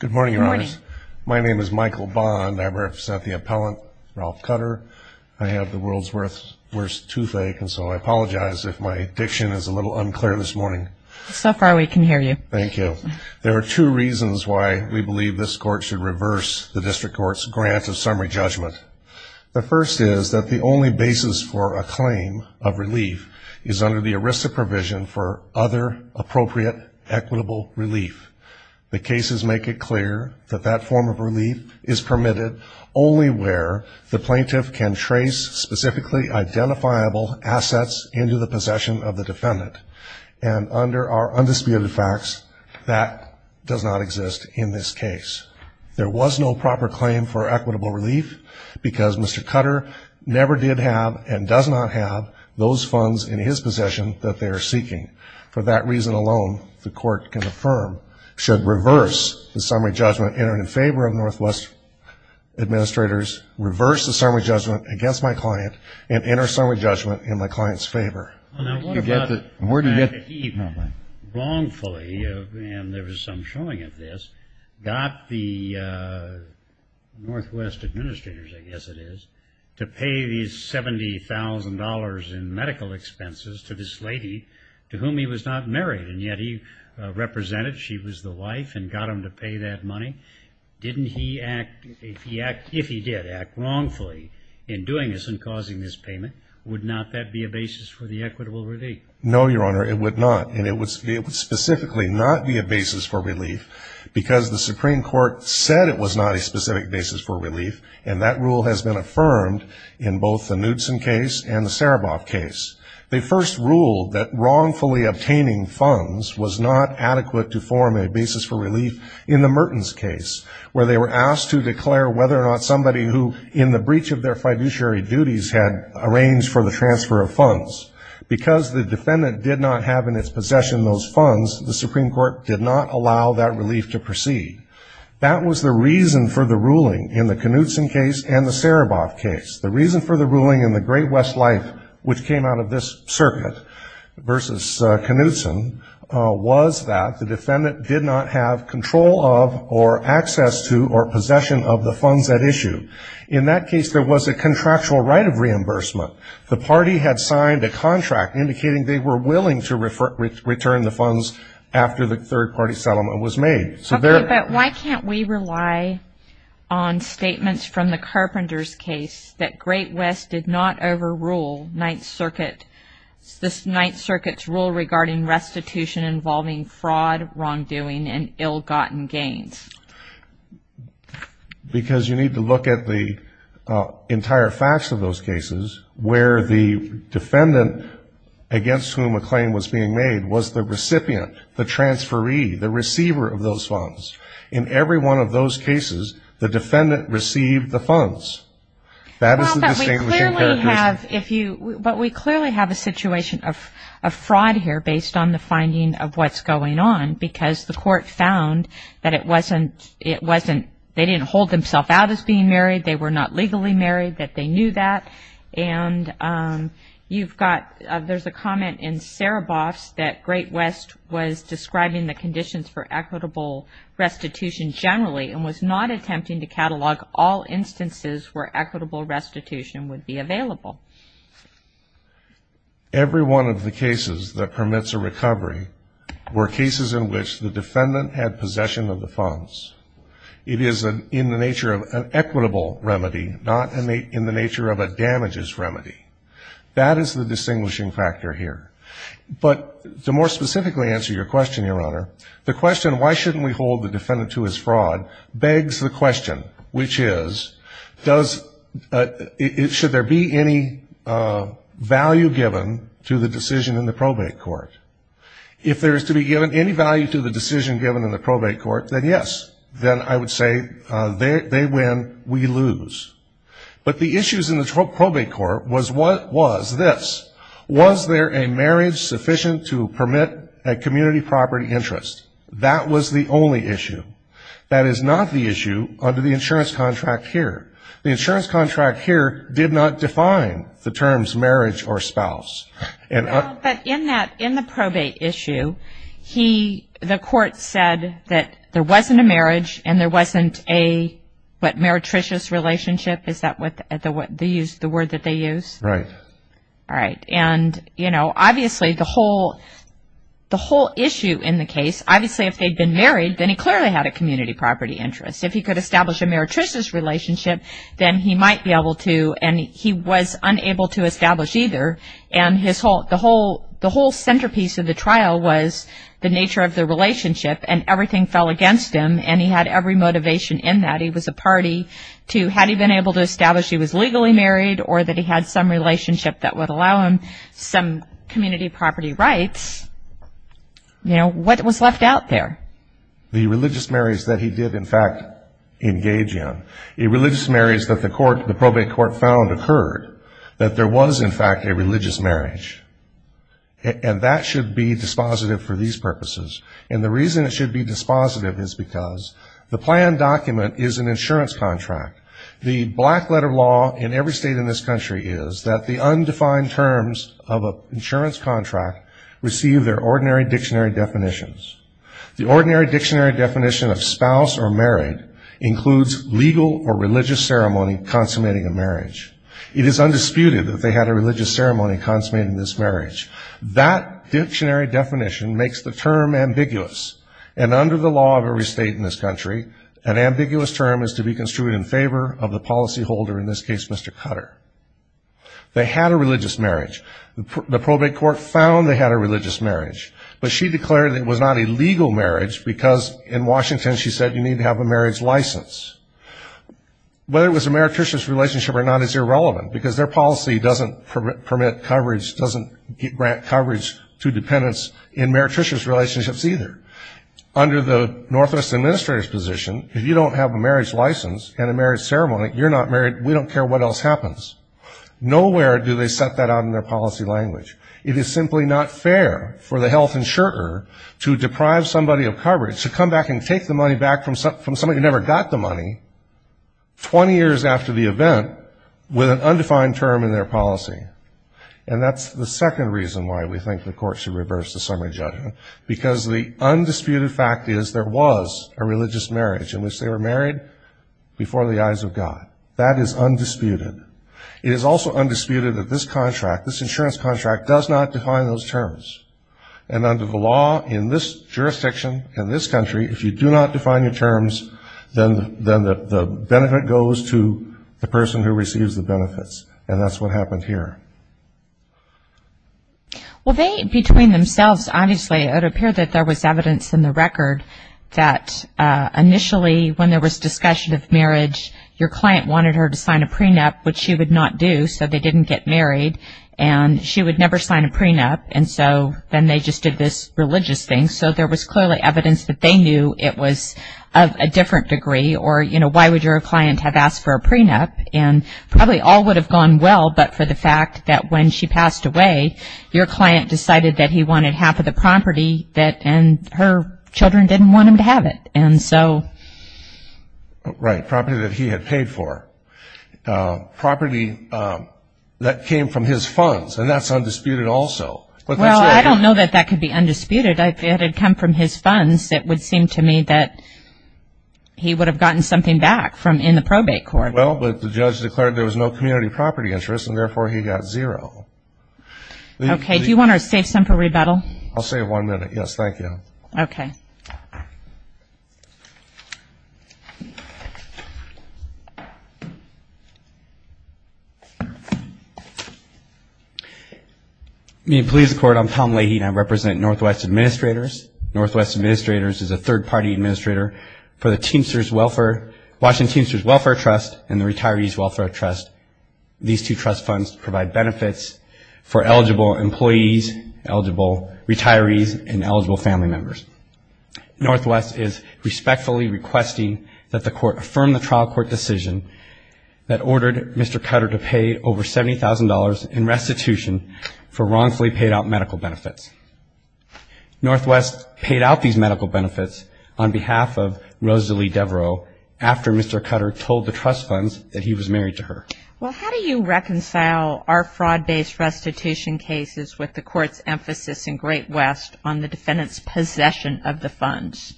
Good morning, Your Honors. My name is Michael Bond. I represent the appellant, Ralph Cutter. I have the world's worst toothache, and so I apologize if my diction is a little unclear this morning. So far, we can hear you. Thank you. There are two reasons why we believe this Court should reverse the District Court's grant of summary judgment. The first is that the only basis for a claim of relief is under the ERISA provision for other appropriate equitable relief. The cases make it clear that that form of relief is permitted only where the plaintiff can trace specifically identifiable assets into the possession of the defendant. And under our undisputed facts, that does not exist in this case. There was no proper claim for equitable relief because Mr. Cutter never did have and does not have those funds in his possession that they are seeking. For that reason alone, the Court can affirm, should reverse the summary judgment entered in favor of Northwest administrators, reverse the summary judgment against my client, and enter summary judgment in my client's favor. Now, what about the fact that he wrongfully, and there was some showing of this, got the Northwest administrators, I guess it is, to pay these $70,000 in medical expenses to this lady to whom he was not married, and yet he represented she was the wife and got him to pay that money? Didn't he act, if he did act wrongfully in doing this and causing this payment, would not that be a basis for the equitable relief? No, Your Honor, it would not. And it would specifically not be a basis for relief because the Supreme Court said it was not a specific basis for relief, and that rule has been affirmed in both the Knudson case and the Sereboff case. They first ruled that wrongfully obtaining funds was not adequate to form a basis for relief in the Mertens case, where they were asked to declare whether or not somebody who, in the breach of their fiduciary duties, had arranged for the transfer of funds. Because the defendant did not have in its possession those funds, the Supreme Court did not allow that relief to proceed. That was the reason for the ruling in the Knudson case and the Sereboff case. The reason for the ruling in the Great West Life, which came out of this circuit, versus Knudson, was that the defendant did not have control of or access to or possession of the funds at issue. In that case, there was a contractual right of reimbursement. The party had signed a contract indicating they were willing to return the funds after the third-party settlement was made. Okay, but why can't we rely on statements from the Carpenter's case that Great West did not overrule Ninth Circuit's rule regarding restitution involving fraud, wrongdoing, and ill-gotten gains? Because you need to look at the entire facts of those cases where the defendant against whom a claim was being made was the recipient, the transferee, the receiver of those funds. In every one of those cases, the defendant received the funds. That is the distinguishing characteristic. But we clearly have a situation of fraud here based on the finding of what's going on because the court found that it wasn't – they didn't hold themselves out as being married. They were not legally married, that they knew that. And you've got – there's a comment in Saraboff's that Great West was describing the conditions for equitable restitution generally and was not attempting to catalog all instances where equitable restitution would be available. Every one of the cases that permits a recovery were cases in which the defendant had possession of the funds. It is in the nature of an equitable remedy, not in the nature of a damages remedy. That is the distinguishing factor here. But to more specifically answer your question, Your Honor, the question, why shouldn't we hold the defendant to his fraud, begs the question, which is, does – should there be any value given to the decision in the probate court? If there is to be given any value to the decision given in the probate court, then yes. Then I would say they win, we lose. But the issues in the probate court was this. Was there a marriage sufficient to permit a community property interest? That was the only issue. That is not the issue under the insurance contract here. The insurance contract here did not define the terms marriage or spouse. But in the probate issue, the court said that there wasn't a marriage and there wasn't a, what, meretricious relationship? Is that the word that they use? Right. All right. And, you know, obviously the whole issue in the case, obviously if they had been married, then he clearly had a community property interest. If he could establish a meretricious relationship, then he might be able to, and he was unable to establish either. And the whole centerpiece of the trial was the nature of the relationship, and everything fell against him, and he had every motivation in that. He was a party to had he been able to establish he was legally married or that he had some relationship that would allow him some community property rights. You know, what was left out there? The religious marriage that he did, in fact, engage in. A religious marriage that the probate court found occurred, that there was, in fact, a religious marriage. And that should be dispositive for these purposes. And the reason it should be dispositive is because the plan document is an insurance contract. The black letter law in every state in this country is that the undefined terms of an insurance contract receive their ordinary dictionary definitions. The ordinary dictionary definition of spouse or married includes legal or religious ceremony consummating a marriage. It is undisputed that they had a religious ceremony consummating this marriage. That dictionary definition makes the term ambiguous, and under the law of every state in this country, an ambiguous term is to be construed in favor of the policyholder, in this case, Mr. Cutter. They had a religious marriage. The probate court found they had a religious marriage, but she declared it was not a legal marriage because in Washington she said you need to have a marriage license. Whether it was a meretricious relationship or not is irrelevant because their policy doesn't permit coverage, doesn't grant coverage to dependents in meretricious relationships either. Under the Northwest Administrator's position, if you don't have a marriage license and a marriage ceremony, you're not married, we don't care what else happens. Nowhere do they set that out in their policy language. It is simply not fair for the health insurer to deprive somebody of coverage, to come back and take the money back from somebody who never got the money 20 years after the event with an undefined term in their policy. And that's the second reason why we think the court should reverse the summary judgment, because the undisputed fact is there was a religious marriage in which they were married before the eyes of God. That is undisputed. It is also undisputed that this contract, this insurance contract, does not define those terms. And under the law in this jurisdiction, in this country, if you do not define your terms, then the benefit goes to the person who receives the benefits. And that's what happened here. Well, between themselves, obviously it would appear that there was evidence in the record that initially when there was discussion of marriage, your client wanted her to sign a prenup, which she would not do, so they didn't get married. And she would never sign a prenup, and so then they just did this religious thing. So there was clearly evidence that they knew it was of a different degree, or, you know, why would your client have asked for a prenup? And probably all would have gone well, but for the fact that when she passed away, your client decided that he wanted half of the property, and her children didn't want him to have it. And so. Right, property that he had paid for. Property that came from his funds, and that's undisputed also. Well, I don't know that that could be undisputed. If it had come from his funds, it would seem to me that he would have gotten something back in the probate court. Well, but the judge declared there was no community property interest, and therefore he got zero. Okay. Do you want to save some for rebuttal? I'll save one minute. Yes, thank you. Okay. Meeting please. I'm Tom Leahy, and I represent Northwest Administrators. Northwest Administrators is a third-party administrator for the Teamsters Welfare, Washington Teamsters Welfare Trust and the Retirees Welfare Trust. These two trust funds provide benefits for eligible employees, eligible retirees, and eligible family members. Northwest is respectfully requesting that the court affirm the trial court decision that ordered Mr. Cutter to pay over $70,000 in restitution for wrongfully paid out medical benefits. Northwest paid out these medical benefits on behalf of Rosalie Devereaux after Mr. Cutter told the trust funds that he was married to her. Well, how do you reconcile our fraud-based restitution cases with the court's emphasis in Great West on the defendant's possession of the funds?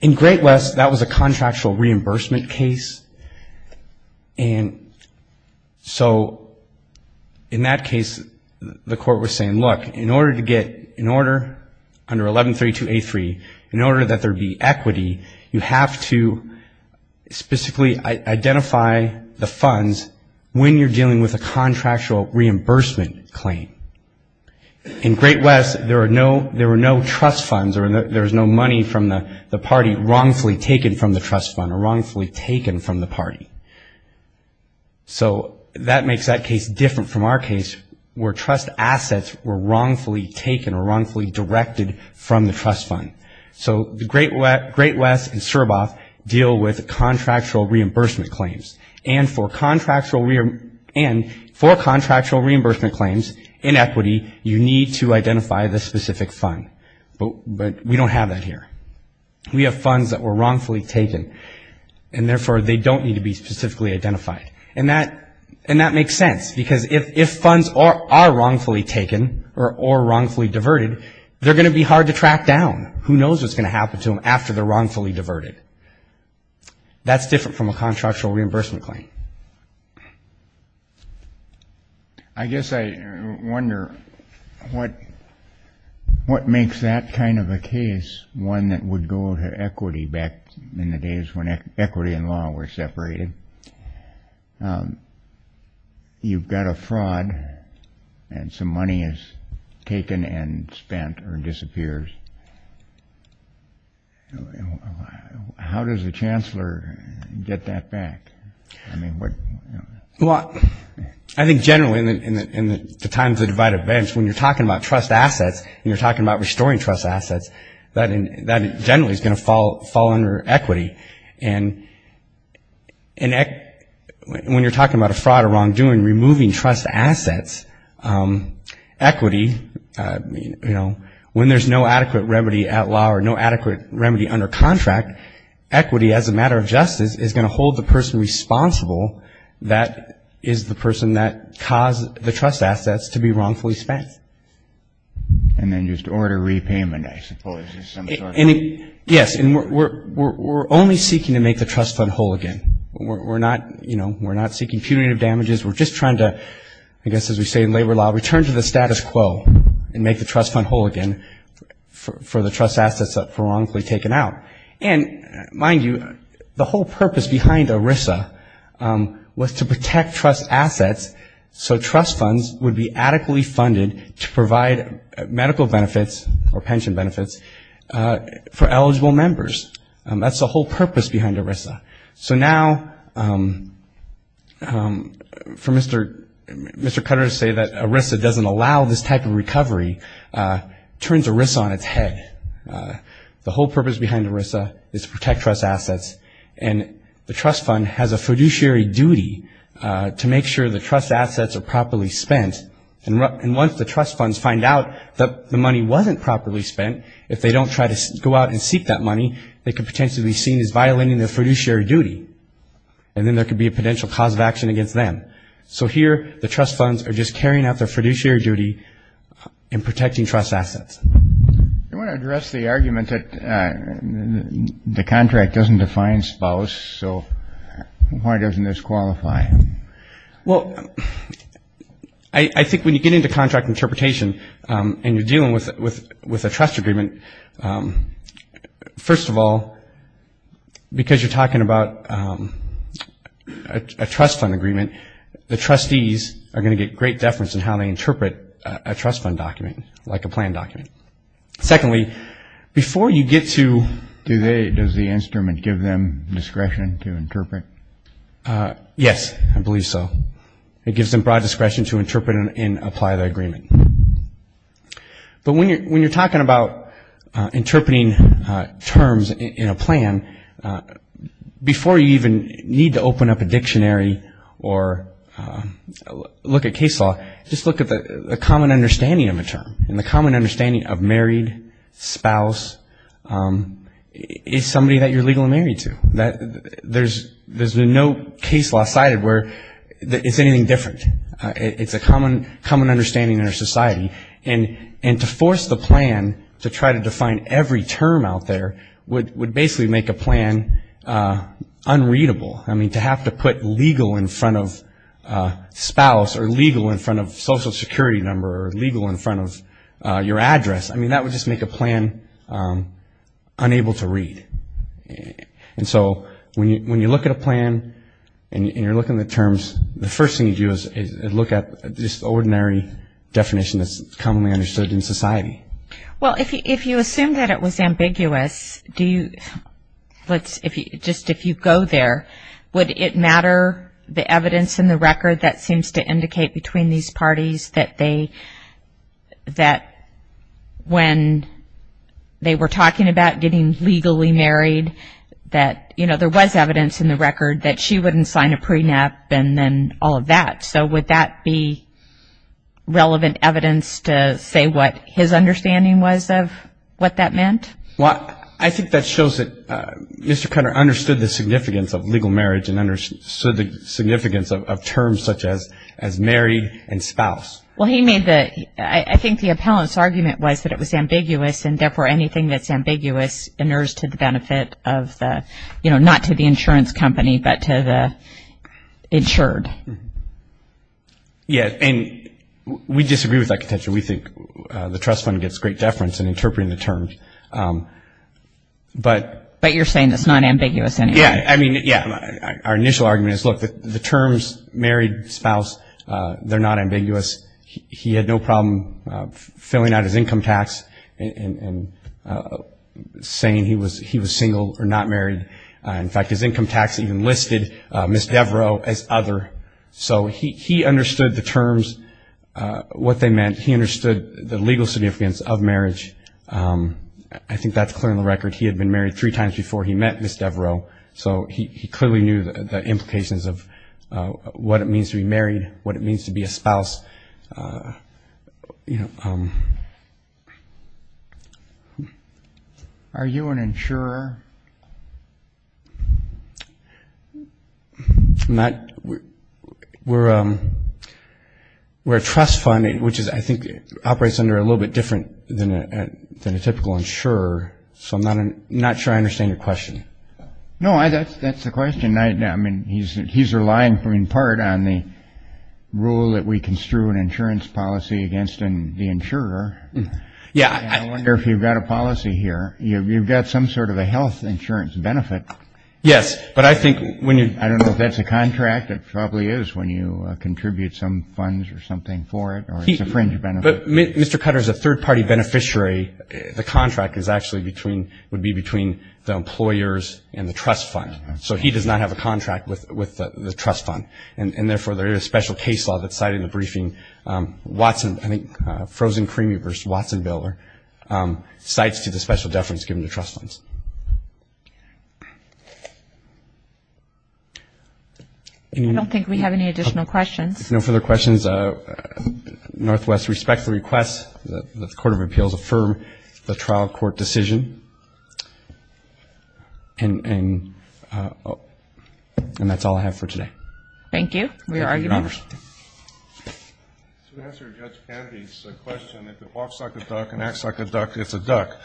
In Great West, that was a contractual reimbursement case, and so in that case the court was saying, look, in order to get an order under 1132A3, in order that there be equity, you have to specifically identify the funds when you're dealing with a contractual reimbursement claim. In Great West, there were no trust funds, there was no money from the party wrongfully taken from the trust fund or wrongfully taken from the party. So that makes that case different from our case where trust assets were wrongfully taken or wrongfully directed from the trust fund. So Great West and CERBOF deal with contractual reimbursement claims, and for contractual reimbursement claims in equity, you need to identify the specific fund. But we don't have that here. We have funds that were wrongfully taken, and therefore they don't need to be specifically identified. And that makes sense, because if funds are wrongfully taken or wrongfully diverted, they're going to be hard to track down. Who knows what's going to happen to them after they're wrongfully diverted. That's different from a contractual reimbursement claim. I guess I wonder what makes that kind of a case one that would go to equity back in the days when equity and law were separated. You've got a fraud, and some money is taken and spent or disappears. How does a chancellor get that back? Well, I think generally in the times of divided events, when you're talking about trust assets, and you're talking about restoring trust assets, that generally is going to fall under equity. And when you're talking about a fraud or wrongdoing, removing trust assets, equity, you know, when there's no adequate remedy at law or no adequate remedy under contract, equity as a matter of justice is going to hold the person responsible that is the person that caused the trust and then just order repayment, I suppose. Yes, and we're only seeking to make the trust fund whole again. We're not seeking punitive damages. We're just trying to, I guess as we say in labor law, return to the status quo and make the trust fund whole again for the trust assets that were wrongfully taken out. And mind you, the whole purpose behind ERISA was to protect trust assets so trust funds would be adequately funded to provide medical benefits or pension benefits for eligible members. That's the whole purpose behind ERISA. So now for Mr. Cutter to say that ERISA doesn't allow this type of recovery turns ERISA on its head. The whole purpose behind ERISA is to protect trust assets, and the trust fund has a fiduciary duty to make sure the trust assets are properly spent. And once the trust funds find out that the money wasn't properly spent, if they don't try to go out and seek that money, they could potentially be seen as violating their fiduciary duty, and then there could be a potential cause of action against them. So here the trust funds are just carrying out their fiduciary duty in protecting trust assets. I want to address the argument that the contract doesn't define spouse, so why doesn't this qualify? Well, I think when you get into contract interpretation and you're dealing with a trust agreement, first of all, because you're talking about a trust fund agreement, the trustees are going to get great deference in how they interpret a trust fund document like a plan document. Secondly, before you get to... Does the instrument give them discretion to interpret? Yes, I believe so. It gives them broad discretion to interpret and apply their agreement. Before you even need to open up a dictionary or look at case law, just look at the common understanding of a term, and the common understanding of married, spouse, is somebody that you're legally married to. There's no case law cited where it's anything different. It's a common understanding in our society. And to force the plan to try to define every term out there would basically make a plan unreadable. I mean, to have to put legal in front of spouse or legal in front of social security number or legal in front of your address, I mean, that would just make a plan unable to read. And so when you look at a plan and you're looking at the terms, the first thing you do is look at this ordinary definition that's commonly understood in society. Well, if you assume that it was ambiguous, just if you go there, would it matter the evidence in the record that seems to indicate between these parties that when they were talking about getting legally married that, you know, there was evidence in the record that she wouldn't sign a prenup and then all of that. So would that be relevant evidence to say what his understanding was of what that meant? Well, I think that shows that Mr. Cutter understood the significance of legal marriage and understood the significance of terms such as married and spouse. Well, he made the ‑‑ I think the appellant's argument was that it was ambiguous and therefore anything that's ambiguous inures to the benefit of the, you know, not to the insurance company but to the insured. Yeah, and we disagree with that contention. We think the trust fund gets great deference in interpreting the terms. But you're saying it's not ambiguous anyway. Yeah, I mean, yeah. Our initial argument is, look, the terms married, spouse, they're not ambiguous. He had no problem filling out his income tax and saying he was single or not married. In fact, his income tax even listed Ms. Devereaux as other. So he understood the terms, what they meant. He understood the legal significance of marriage. I think that's clear in the record. He had been married three times before he met Ms. Devereaux, so he clearly knew the implications of what it means to be married, what it means to be a spouse. Are you an insurer? We're a trust fund, which I think operates under a little bit different than a typical insurer, so I'm not sure I understand your question. No, that's the question. I mean, he's relying in part on the rule that we construe an insurance policy against the insurer. Yeah. I wonder if you've got a policy here. You've got some sort of a health insurance benefit. Yes, but I think when you – I don't know if that's a contract. It probably is when you contribute some funds or something for it or it's a fringe benefit. But Mr. Cutter is a third-party beneficiary. The contract is actually between – would be between the employers and the trust fund. So he does not have a contract with the trust fund, and therefore there is a special case law that's cited in the briefing. Watson – I think Frozen Creamery versus Watson-Biller cites to the special deference given to trust funds. I don't think we have any additional questions. No further questions. Northwest respects the request that the Court of Appeals affirm the trial court decision. And that's all I have for today. Thank you. We are arguing. To answer Judge Canvey's question, if it walks like a duck and acts like a duck, it's a duck.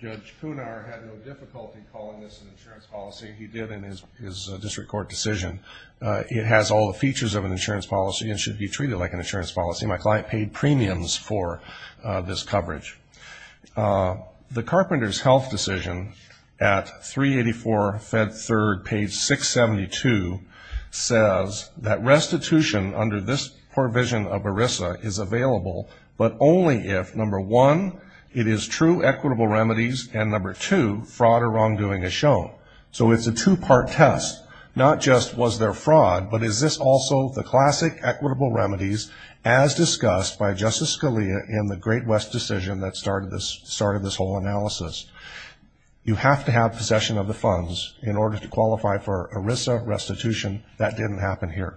Judge Cunar had no difficulty calling this an insurance policy. He did in his district court decision. It has all the features of an insurance policy and should be treated like an insurance policy. My client paid premiums for this coverage. The Carpenter's health decision at 384 Fed 3rd, page 672, says that restitution under this provision of ERISA is available, but only if, number one, it is true equitable remedies, and, number two, fraud or wrongdoing is shown. So it's a two-part test, not just was there fraud, but is this also the classic equitable remedies as discussed by Justice Scalia in the Great West decision that started this whole analysis. You have to have possession of the funds in order to qualify for ERISA restitution. That didn't happen here.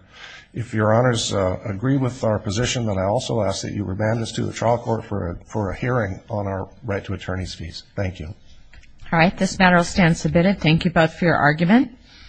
If Your Honors agree with our position, then I also ask that you remand this to the trial court for a hearing on our right to attorney's fees. Thank you. All right. This matter will stand submitted. Thank you both for your argument.